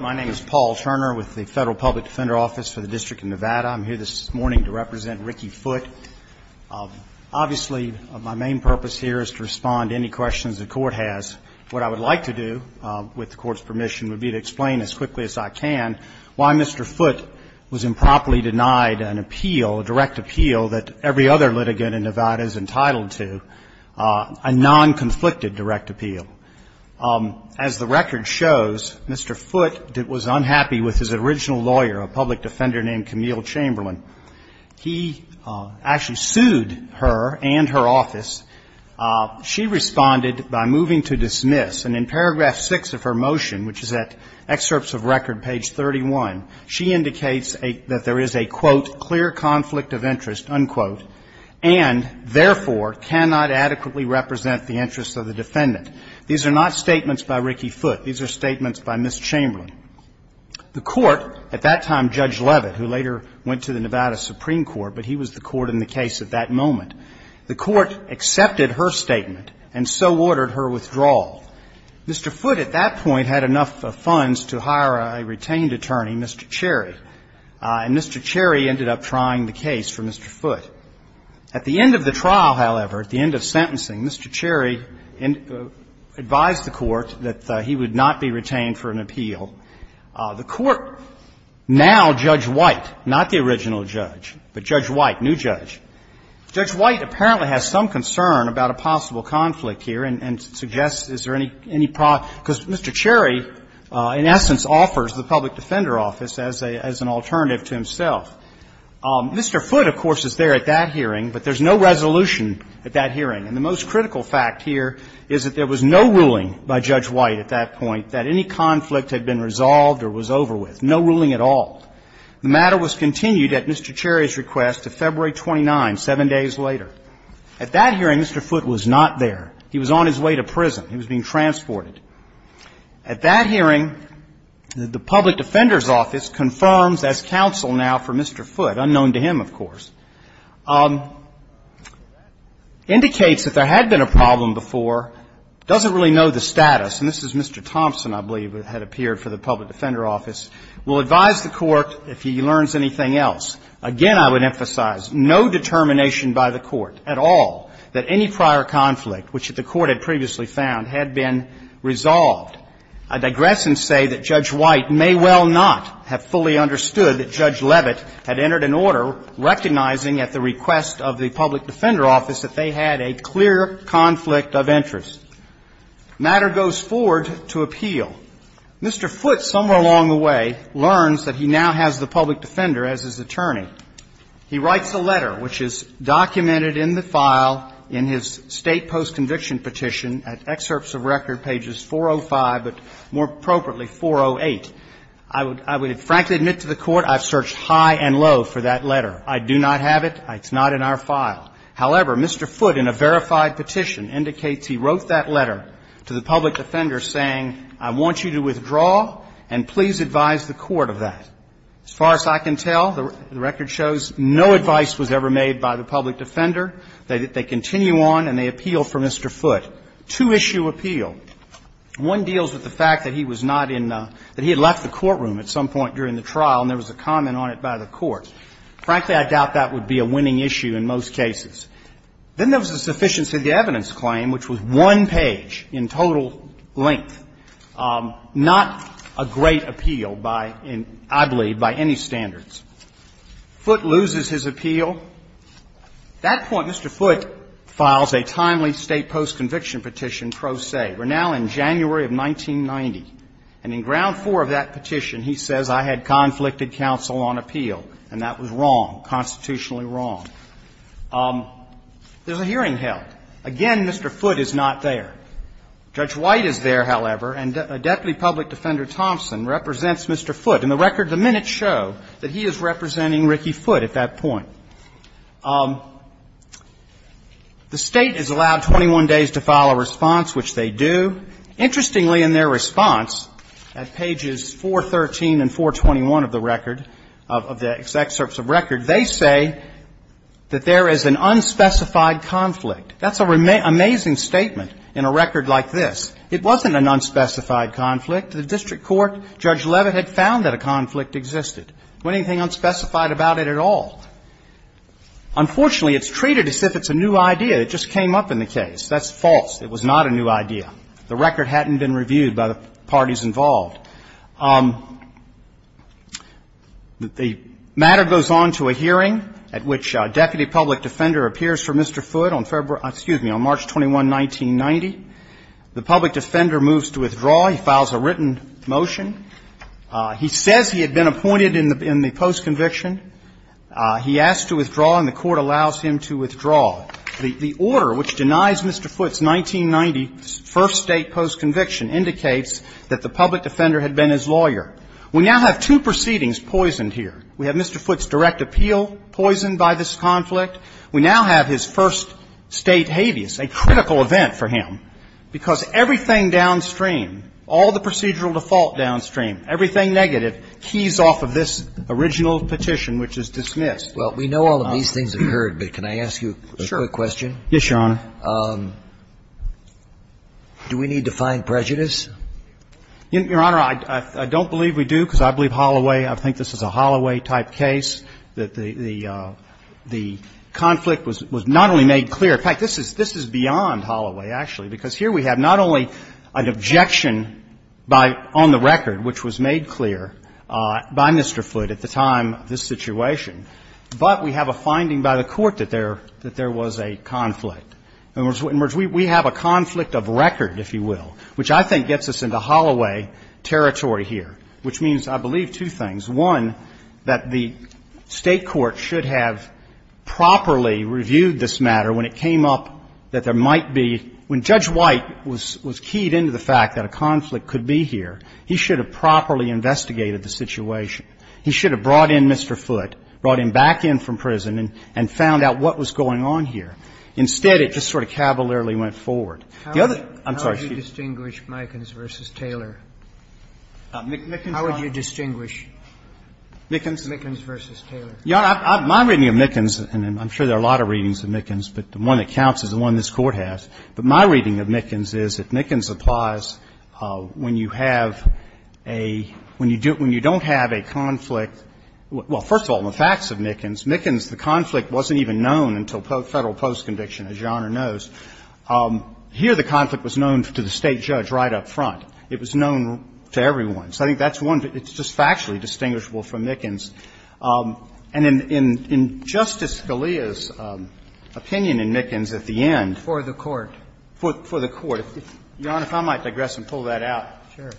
My name is Paul Turner with the Federal Public Defender Office for the District of Nevada. I'm here this morning to represent Ricky Foote. Obviously, my main purpose here is to respond to any questions the Court has. What I would like to do, with the Court's permission, would be to explain as quickly as I can why Mr. Foote was improperly denied an appeal, a direct appeal that every other litigant in Nevada is entitled to, a non-conflicted direct appeal. As the record shows, Mr. Foote was unhappy with his original lawyer, a public defender named Camille Chamberlain. He actually sued her and her office. She responded by moving to dismiss. And in paragraph 6 of her motion, which is at excerpts of record, page 31, she indicates that there is a, quote, clear conflict of interest, unquote, and, therefore, cannot adequately represent the interests of the defendant. These are not statements by Ricky Foote. These are statements by Ms. Chamberlain. The Court, at that time Judge Levitt, who later went to the Nevada Supreme Court, but he was the Court in the case at that moment, the Court accepted her statement and so ordered her withdrawal. Mr. Foote at that point had enough funds to hire a retained attorney, Mr. Cherry, and Mr. Cherry ended up trying the case for Mr. Foote. At the end of the trial, however, at the end of sentencing, Mr. Cherry advised the Court that he would not be retained for an appeal. The Court now, Judge White, not the original judge, but Judge White, new judge, Judge White apparently has some concern about a possible conflict here and suggests, is there any problem, because Mr. Cherry, in essence, offers the public defender office as an alternative to himself. Mr. Foote, of course, is there at that hearing, but there's no resolution at that hearing. And the most critical fact here is that there was no ruling by Judge White at that point that any conflict had been resolved or was over with. No ruling at all. The matter was continued at Mr. Cherry's request to February 29, seven days later. At that hearing, Mr. Foote was not there. He was on his way to prison. He was being transported. At that hearing, the public defender's office confirms as counsel now for Mr. Foote, unknown to him, of course, indicates that there had been a problem before, doesn't really know the status, and this is Mr. Thompson, I believe, who had appeared for the public defender office, will advise the Court, if he learns anything else, again, I would emphasize, no determination by the Court at all that any prior conflict, which the Court had previously found, had been resolved. I digress and say that Judge White may well not have fully understood that Judge Leavitt had entered an order recognizing at the request of the public defender office that they had a clear conflict of interest. The matter goes forward to appeal. Mr. Foote, somewhere along the way, learns that he now has the public defender as his attorney. He writes a letter, which is documented in the file in his State Post-Conviction Petition at excerpts of record, pages 405 but, more appropriately, 408. I would frankly admit to the Court I've searched high and low for that letter. I do not have it. It's not in our file. However, Mr. Foote, in a verified petition, indicates he wrote that letter to the public defender saying, I want you to withdraw and please advise the Court of that. As far as I can tell, the record shows no advice was ever made by the public defender. They continue on and they appeal for Mr. Foote. Two-issue appeal. One deals with the fact that he was not in the – that he had left the courtroom at some point during the trial and there was a comment on it by the Court. Frankly, I doubt that would be a winning issue in most cases. Then there was a sufficiency of the evidence claim, which was one page in total length. Not a great appeal by, I believe, by any standards. Foote loses his appeal. At that point, Mr. Foote files a timely State post-conviction petition pro se. We're now in January of 1990. And in ground four of that petition, he says, I had conflicted counsel on appeal and that was wrong, constitutionally wrong. There's a hearing held. Again, Mr. Foote is not there. Judge White is there, however, and Deputy Public Defender Thompson represents Mr. Foote. In the record, the minutes show that he is representing Ricky Foote at that point. The State is allowed 21 days to file a response, which they do. Interestingly, in their response, at pages 413 and 421 of the record, of the exact excerpts of record, they say that there is an unspecified conflict. That's an amazing statement in a record like this. It wasn't an unspecified conflict. The district court, Judge Leavitt, had found that a conflict existed. There wasn't anything unspecified about it at all. Unfortunately, it's treated as if it's a new idea. It just came up in the case. That's false. It was not a new idea. The record hadn't been reviewed by the parties involved. The matter goes on to a hearing at which Deputy Public Defender appears for Mr. Foote on February — excuse me, on March 21, 1990. The public defender moves to withdraw. He files a written motion. He says he had been appointed in the post-conviction. He asks to withdraw, and the Court allows him to withdraw. The order which denies Mr. Foote's 1990 first State post-conviction indicates that the public defender had been his lawyer. We now have two proceedings poisoned here. We have Mr. Foote's direct appeal poisoned by this conflict. We now have his first State habeas, a critical event for him, because everything downstream, all the procedural default downstream, everything negative, keys off of this original petition which is dismissed. Well, we know all of these things occurred, but can I ask you a quick question? Sure. Yes, Your Honor. Do we need to find prejudice? Your Honor, I don't believe we do, because I believe Holloway, I think this is a Holloway-type case, that the conflict was not only made clear. In fact, this is beyond Holloway, actually, because here we have not only an objection on the record which was made clear by Mr. Foote at the time of this situation, but we have a finding by the Court that there was a conflict. In other words, we have a conflict of record, if you will, which I think gets us into Holloway territory here, which means, I believe, two things. One, that the State court should have properly reviewed this matter when it came up that there might be, when Judge White was keyed into the fact that a conflict could be here, he should have properly investigated the situation. He should have brought in Mr. Foote, brought him back in from prison and found out what was going on here. Instead, it just sort of cavalierly went forward. The other, I'm sorry. How would you distinguish Mikens v. Taylor? How would you distinguish? Mikens? Mikens v. Taylor. Your Honor, my reading of Mikens, and I'm sure there are a lot of readings of Mikens, but the one that counts is the one this Court has. But my reading of Mikens is that Mikens applies when you have a, when you don't have a conflict. Well, first of all, the facts of Mikens. Mikens, the conflict wasn't even known until Federal post-conviction, as Your Honor knows. Here the conflict was known to the State judge right up front. It was known to everyone. So I think that's one. It's just factually distinguishable from Mikens. And in Justice Scalia's opinion in Mikens at the end. For the Court. For the Court. Your Honor, if I might digress and pull that out. Sure.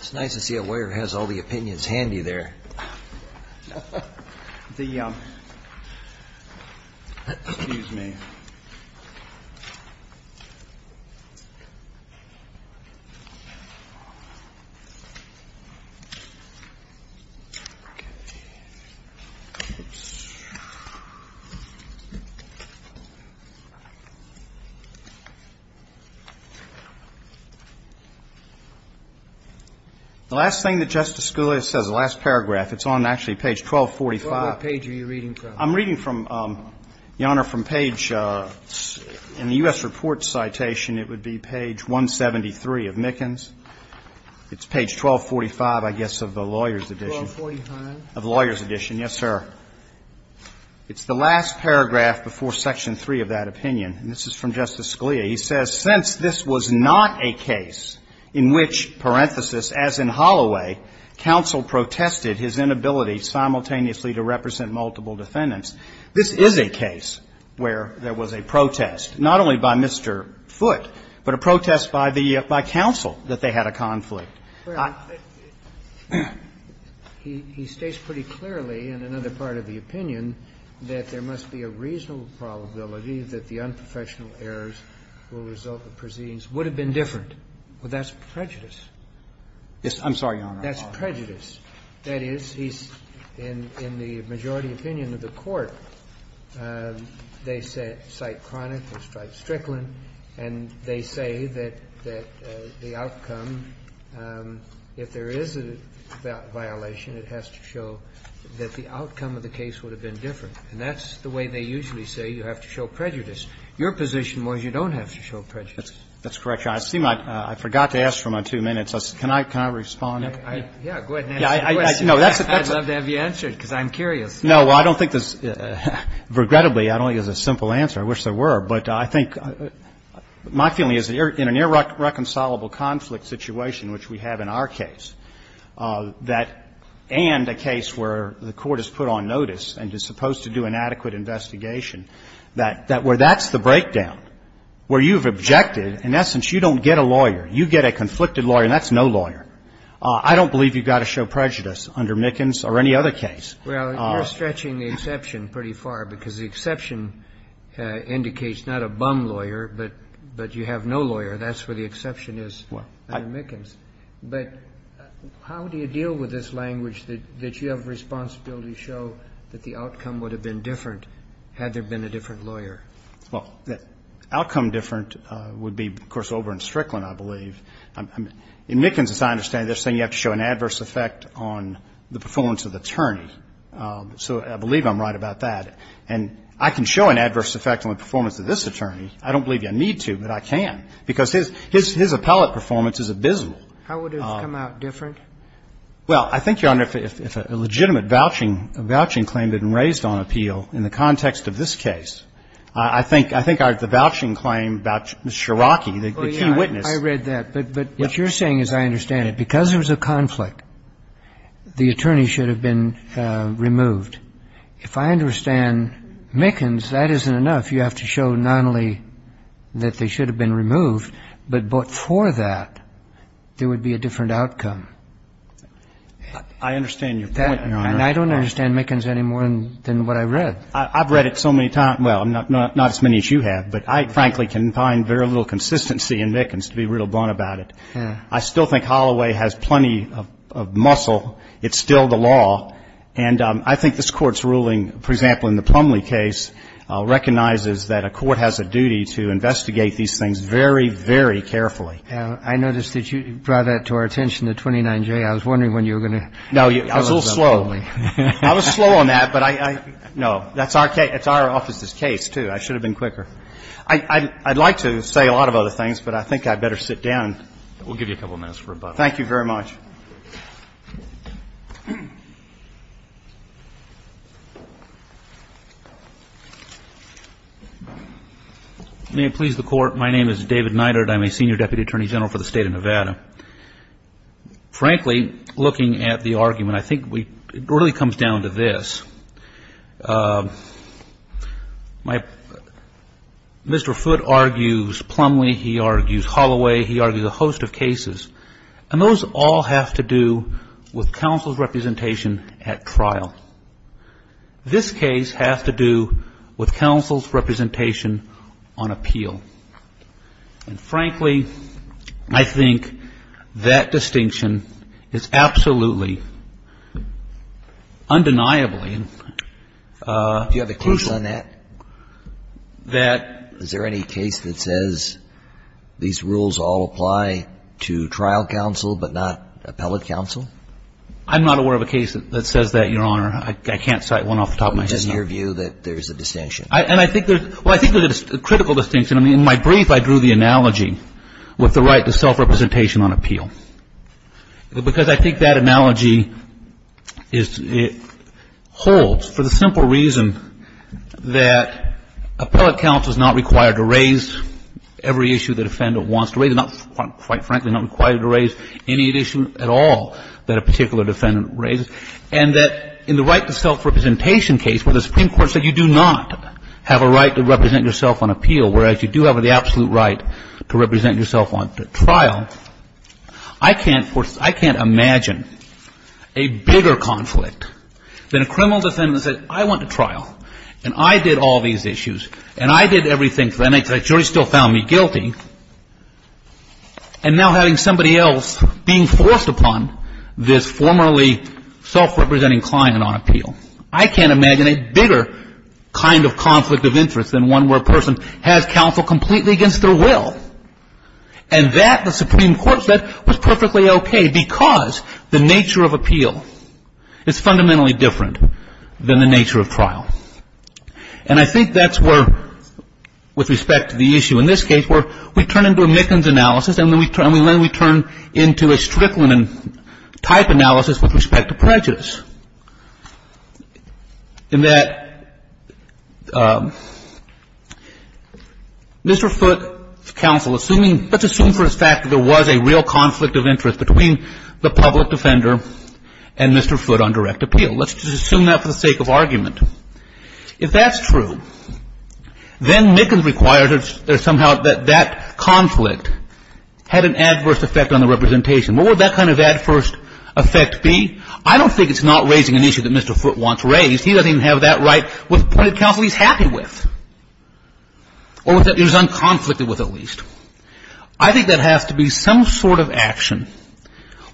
It's nice to see a lawyer who has all the opinions handy there. The, excuse me. The last thing that Justice Scalia says, the last paragraph. It's on actually page 1245. What page are you reading from? I'm reading from, Your Honor, from page, in the U.S. report citation, it would be page 173 of Mikens. It's page 1245, I guess, of the lawyer's edition. 1245. Of the lawyer's edition, yes, sir. It's the last paragraph before section 3 of that opinion. And this is from Justice Scalia. He says, He states pretty clearly in another part of the opinion that there must be a reasonable probability that the unprofessional errors will result in a conflict. That's prejudice. Yes, I'm sorry, Your Honor. That's prejudice. That is, he's in the majority opinion of the Court. They cite Cronick, they cite Strickland, and they say that the outcome, if there is a violation, it has to show that the outcome of the case would have been different. And that's the way they usually say you have to show prejudice. Your position was you don't have to show prejudice. That's correct, Your Honor. I seem like I forgot to ask for my two minutes. Can I respond? Yes, go ahead and answer the question. I'd love to have you answer it, because I'm curious. No, I don't think there's, regrettably, I don't think there's a simple answer. I wish there were. But I think my feeling is in an irreconcilable conflict situation, which we have in our case, that and a case where the Court has put on notice and is supposed to do an exception, that's the breakdown, where you've objected. In essence, you don't get a lawyer. You get a conflicted lawyer, and that's no lawyer. I don't believe you've got to show prejudice under Mickens or any other case. Well, you're stretching the exception pretty far, because the exception indicates not a bum lawyer, but you have no lawyer. That's where the exception is under Mickens. But how do you deal with this language that you have a responsibility to show that the outcome would have been different had there been a different lawyer? Well, outcome different would be, of course, over in Strickland, I believe. In Mickens, as I understand it, they're saying you have to show an adverse effect on the performance of the attorney. So I believe I'm right about that. And I can show an adverse effect on the performance of this attorney. I don't believe you need to, but I can, because his appellate performance is abysmal. How would it have come out different? Well, I think, Your Honor, if a legitimate vouching claim had been raised on appeal in the context of this case, I think the vouching claim about Mr. Sharrocky, the key witness. Oh, yeah. I read that. But what you're saying is I understand it. Because there was a conflict, the attorney should have been removed. If I understand Mickens, that isn't enough. You have to show not only that they should have been removed, but for that there would be a different outcome. I understand your point, Your Honor. And I don't understand Mickens any more than what I read. I've read it so many times. Well, not as many as you have, but I, frankly, can find very little consistency in Mickens, to be real blunt about it. I still think Holloway has plenty of muscle. It's still the law. And I think this Court's ruling, for example, in the Plumlee case, recognizes that a court has a duty to investigate these things very, very carefully. I noticed that you brought that to our attention, the 29J. I was wondering when you were going to tell us about Plumlee. No, I was a little slow. I was slow on that, but I know. That's our case. It's our office's case, too. I should have been quicker. I'd like to say a lot of other things, but I think I'd better sit down. We'll give you a couple minutes for rebuttal. Thank you very much. May it please the Court. My name is David Neidert. I'm a Senior Deputy Attorney General for the State of Nevada. Frankly, looking at the argument, I think it really comes down to this. Mr. Foote argues Plumlee. He argues Holloway. He argues a host of cases. And those all have to do with counsel's representation at trial. This case has to do with counsel's representation on appeal. And frankly, I think that distinction is absolutely undeniably crucial. Do you have a case on that? Is there any case that says these rules all apply to trial counsel but not appellate counsel? I'm not aware of a case that says that, Your Honor. I can't cite one off the top of my head. It's just your view that there's a distinction. And I think there's a critical distinction. I mean, in my brief, I drew the analogy with the right to self-representation on appeal. Because I think that analogy holds for the simple reason that appellate counsel is not required to raise every issue the defendant wants to raise. Quite frankly, not required to raise any issue at all that a particular defendant raises. And that in the right to self-representation case where the Supreme Court said you do not have a right to represent yourself on appeal, whereas you do have the absolute right to represent yourself on trial, I can't imagine a bigger conflict than a criminal defendant that said, I want to trial. And I did all these issues. And I did everything. And the jury still found me guilty. And now having somebody else being forced upon this formerly self-representing client on appeal. I can't imagine a bigger kind of conflict of interest than one where a person has counsel completely against their will. And that, the Supreme Court said, was perfectly okay because the nature of appeal is fundamentally different than the nature of trial. And I think that's where, with respect to the issue in this case, where we turn into a Mickens analysis, and then we turn into a Strickland type analysis with respect to prejudice. In that, Mr. Foote's counsel, assuming, let's assume for a fact that there was a real conflict of interest between the public defender and Mr. Foote on direct appeal. Let's just assume that for the sake of argument. If that's true, then Mickens requires somehow that that conflict had an adverse effect on the representation. What would that kind of adverse effect be? I don't think it's not raising an issue that Mr. Foote wants raised. He doesn't even have that right with the point of counsel he's happy with. Or that he was unconflicted with, at least. I think that has to be some sort of action,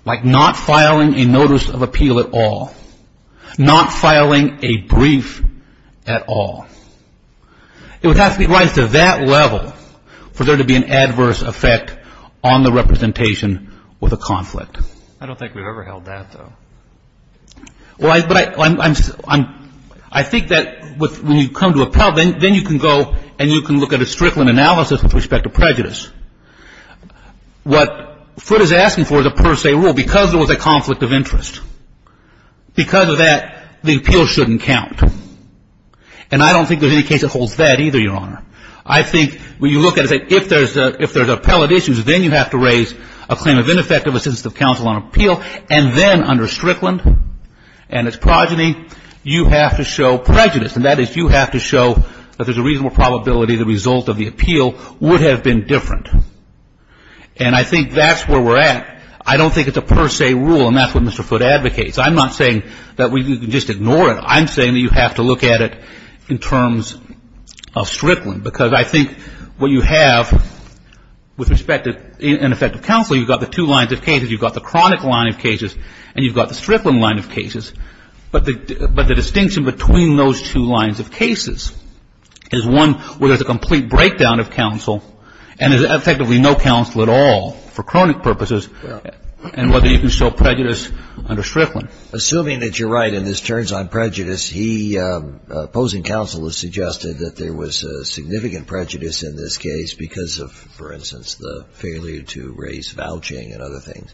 like not filing a notice of appeal at all. Not filing a brief at all. It would have to be raised to that level for there to be an adverse effect on the representation with a conflict. I don't think we've ever held that, though. I think that when you come to appellate, then you can go and you can look at a Strickland analysis with respect to prejudice. What Foote is asking for is a per se rule. Because there was a conflict of interest. Because of that, the appeal shouldn't count. And I don't think there's any case that holds that either, Your Honor. I think when you look at it, if there's appellate issues, then you have to raise a claim of ineffective assistance of counsel on appeal. And then under Strickland and its progeny, you have to show prejudice. And that is you have to show that there's a reasonable probability the result of the appeal would have been different. And I think that's where we're at. I don't think it's a per se rule, and that's what Mr. Foote advocates. I'm not saying that we can just ignore it. I'm saying that you have to look at it in terms of Strickland. Because I think what you have with respect to ineffective counsel, you've got the two lines of cases. You've got the chronic line of cases, and you've got the Strickland line of cases. But the distinction between those two lines of cases is one where there's a complete breakdown of counsel, and there's effectively no counsel at all for chronic purposes, and whether you can show prejudice under Strickland. Assuming that you're right and this turns on prejudice, he, opposing counsel, has suggested that there was significant prejudice in this case because of, for instance, the failure to raise vouching and other things.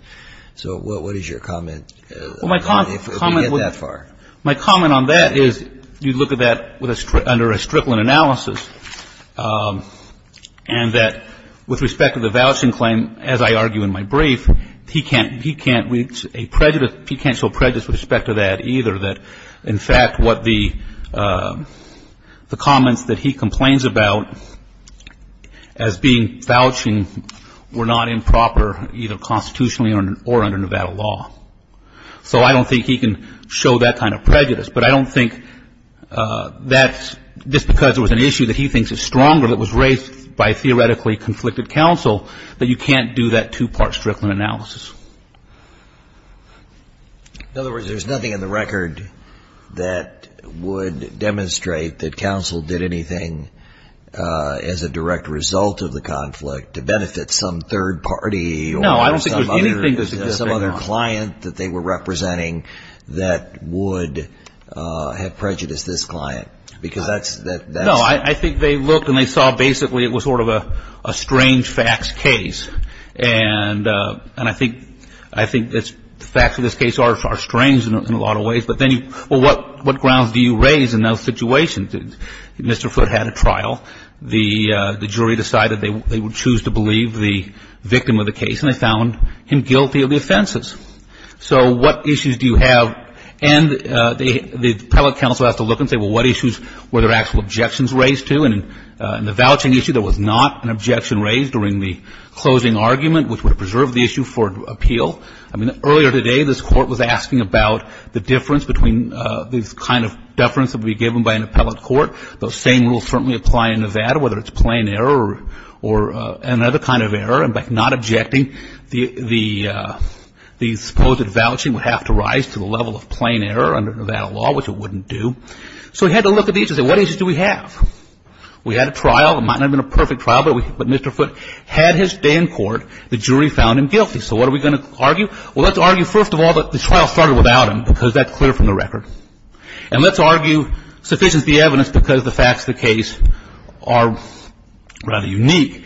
So what is your comment? Well, my comment on that is you look at that under a Strickland analysis, and that with respect to the vouching claim, as I argue in my brief, he can't reach a prejudice, he can't show prejudice with respect to that either, that in fact what the comments that he complains about as being vouching were not improper, either constitutionally or under Nevada law. So I don't think he can show that kind of prejudice. But I don't think that just because there was an issue that he thinks is stronger that was raised by theoretically a conflicted counsel, that you can't do that two-part Strickland analysis. In other words, there's nothing in the record that would demonstrate that counsel did anything as a direct result of the conflict to benefit some third party or some other client that they were representing that would have prejudiced this client? No, I think they looked and they saw basically it was sort of a strange facts case. And I think the facts of this case are strange in a lot of ways. But what grounds do you raise in those situations? Mr. Foote had a trial. The jury decided they would choose to believe the victim of the case, and they found him guilty of the offenses. So what issues do you have? And the appellate counsel has to look and say, well, what issues were there actual objections raised to? And in the vouching issue, there was not an objection raised during the closing argument, which would have preserved the issue for appeal. I mean, earlier today, this court was asking about the difference between the kind of deference that would be given by an appellate court. Those same rules certainly apply in Nevada, whether it's plain error or another kind of error. And by not objecting, the supposed vouching would have to rise to the level of plain error under Nevada law, which it wouldn't do. So we had to look at these and say, what issues do we have? We had a trial. It might not have been a perfect trial, but Mr. Foote had his day in court. The jury found him guilty. So what are we going to argue? Well, let's argue, first of all, that the trial started without him because that's clear from the record. And let's argue sufficient is the evidence because the facts of the case are rather unique.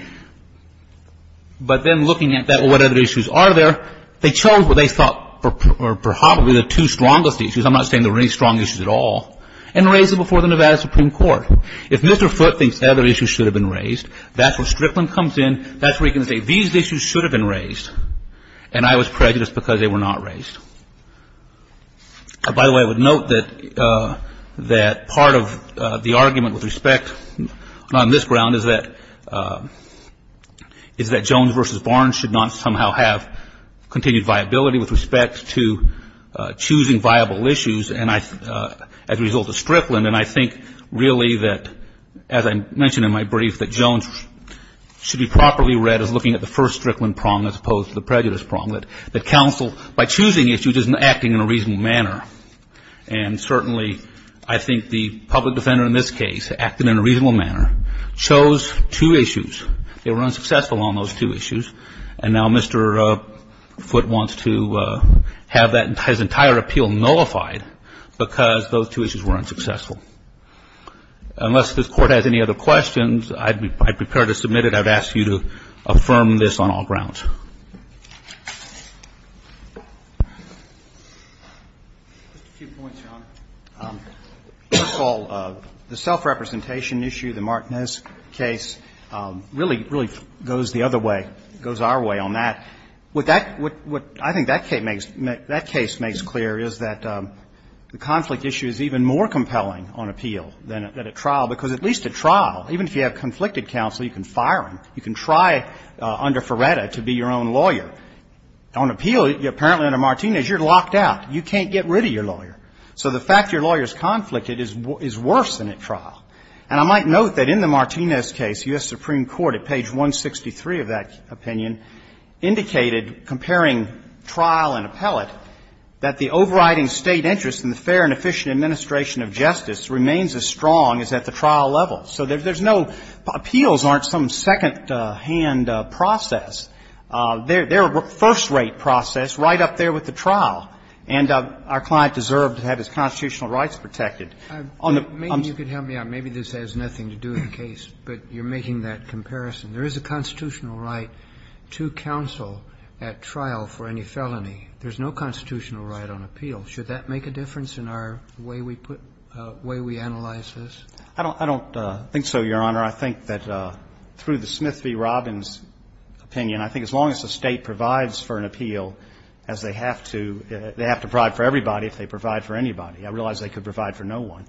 But then looking at that, what other issues are there, they chose what they thought were probably the two strongest issues. I'm not saying there were any strong issues at all, and raised it before the Nevada Supreme Court. If Mr. Foote thinks other issues should have been raised, that's where Strickland comes in. That's where he can say these issues should have been raised, and I was prejudiced because they were not raised. By the way, I would note that part of the argument with respect on this ground is that Jones v. Barnes should not somehow have continued viability with respect to choosing viable issues as a result of Strickland. And I think really that, as I mentioned in my brief, that Jones should be properly read as looking at the first Strickland prong as opposed to the prejudice prong. That counsel, by choosing issues, isn't acting in a reasonable manner. And certainly I think the public defender in this case, acting in a reasonable manner, chose two issues. They were unsuccessful on those two issues. And now Mr. Foote wants to have his entire appeal nullified because those two issues were unsuccessful. Unless this Court has any other questions, I'd be prepared to submit it. I would ask you to affirm this on all grounds. Just a few points, Your Honor. First of all, the self-representation issue, the Martinez case, really, really goes the other way, goes our way on that. What that — what I think that case makes clear is that the conflict issue is even more compelling on appeal than at trial, because at least at trial, even if you have conflicted counsel, you can fire him. You can try under Ferretta to be your own lawyer. On appeal, apparently under Martinez, you're locked out. You can't get rid of your lawyer. So the fact your lawyer is conflicted is worse than at trial. And I might note that in the Martinez case, U.S. Supreme Court, at page 163 of that opinion, indicated, comparing trial and appellate, that the overriding State interest in the fair and efficient administration of justice remains as strong as at the trial level. So there's no — appeals aren't some secondhand process. They're a first-rate process right up there with the trial. And our client deserved to have his constitutional rights protected. On the — Roberts, maybe you could help me out. Maybe this has nothing to do with the case, but you're making that comparison. There is a constitutional right to counsel at trial for any felony. There's no constitutional right on appeal. Should that make a difference in our way we put — way we analyze this? I don't — I don't think so, Your Honor. I think that through the Smith v. Robbins opinion, I think as long as the State provides for an appeal as they have to, they have to provide for everybody if they provide for anybody. I realize they could provide for no one.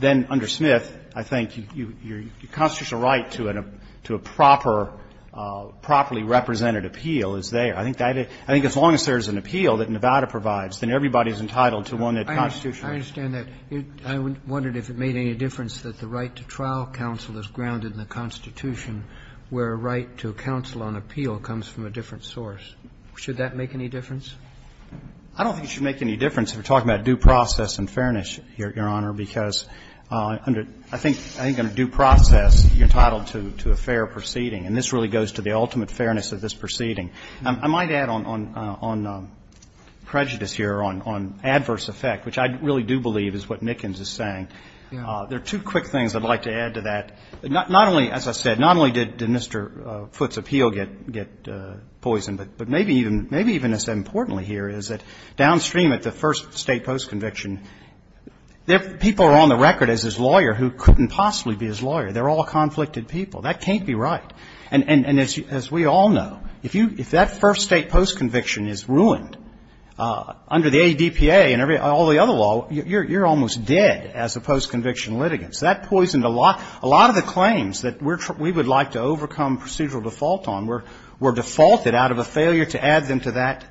Then under Smith, I think your constitutional right to a proper — properly represented appeal is there. I think as long as there's an appeal that Nevada provides, then everybody is entitled to one that constitutes right. I understand that. I wondered if it made any difference that the right to trial counsel is grounded in the Constitution, where a right to counsel on appeal comes from a different source. Should that make any difference? I don't think it should make any difference if we're talking about due process and fairness, Your Honor, because I think under due process, you're entitled to a fair proceeding. And this really goes to the ultimate fairness of this proceeding. I might add on prejudice here, on adverse effect, which I really do believe is what Nickens is saying. There are two quick things I'd like to add to that. Not only, as I said, not only did Mr. Foote's appeal get poisoned, but maybe even less importantly here is that downstream at the first State postconviction, people are on the record as his lawyer who couldn't possibly be his lawyer. They're all conflicted people. That can't be right. And as we all know, if that first State postconviction is ruined under the ADPA and all the other law, you're almost dead as a postconviction litigant. So that poisoned a lot. A lot of the claims that we would like to overcome procedural default on were defaulted out of a failure to add them to that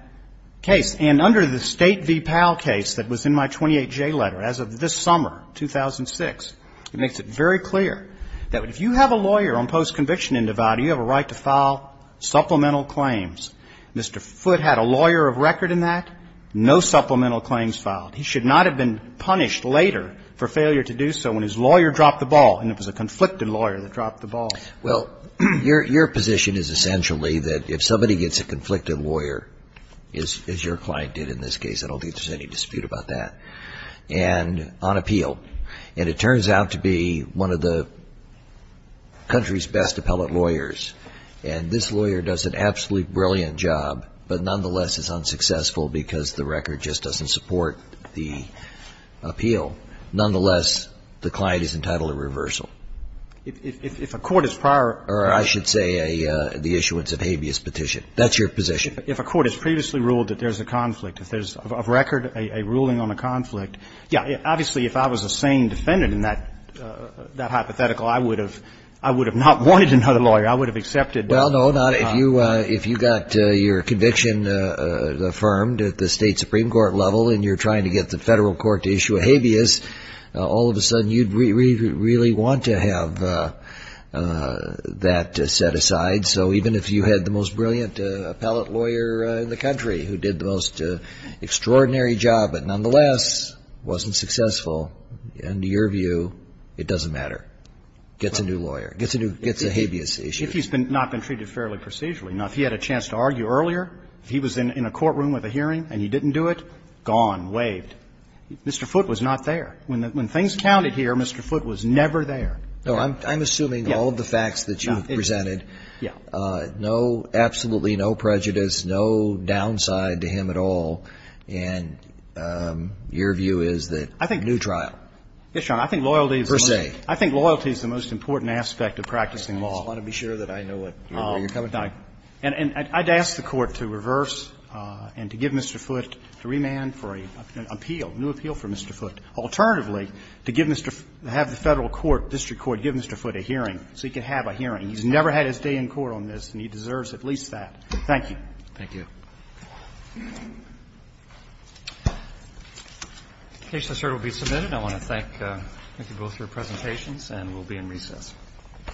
case. And under the State v. Powell case that was in my 28J letter as of this summer, 2006, it makes it very clear that if you have a lawyer on postconviction individuality, you have a right to file supplemental claims. Mr. Foote had a lawyer of record in that. No supplemental claims filed. He should not have been punished later for failure to do so when his lawyer dropped the ball, and it was a conflicted lawyer that dropped the ball. Well, your position is essentially that if somebody gets a conflicted lawyer, as your client did in this case, I don't think there's any dispute about that, and on appeal, and it turns out to be one of the country's best appellate lawyers, and this lawyer does an absolutely brilliant job but nonetheless is unsuccessful because the record just doesn't support the appeal, nonetheless, the client is entitled to reversal. If a court is prior or I should say the issuance of habeas petition. That's your position. If a court has previously ruled that there's a conflict, if there's of record a ruling on a conflict, yeah, obviously, if I was a sane defendant in that hypothetical, I would have not wanted another lawyer. I would have accepted. Well, no. If you got your conviction affirmed at the State supreme court level and you're trying to get the Federal court to issue a habeas, all of a sudden you'd really want to have that set aside. So even if you had the most brilliant appellate lawyer in the country who did the most extraordinary job but nonetheless wasn't successful, under your view, it doesn't matter. Gets a new lawyer. Gets a new, gets a habeas issue. If he's not been treated fairly procedurally. Now, if he had a chance to argue earlier, if he was in a courtroom with a hearing and he didn't do it, gone, waived. Mr. Foote was not there. When things counted here, Mr. Foote was never there. No, I'm assuming all of the facts that you've presented. Yeah. No, absolutely no prejudice, no downside to him at all. And your view is that new trial. Yes, Your Honor. I think loyalty is the most important aspect of practicing law. I just want to be sure that I know what you're coming to. And I'd ask the Court to reverse and to give Mr. Foote, to remand for an appeal, a new appeal for Mr. Foote. Alternatively, to give Mr. Foote, have the Federal court, district court, give Mr. Foote a hearing so he can have a hearing. He's never had his day in court on this and he deserves at least that. Thank you. Thank you. The case, sir, will be submitted. I want to thank you both for your presentations and we'll be in recess.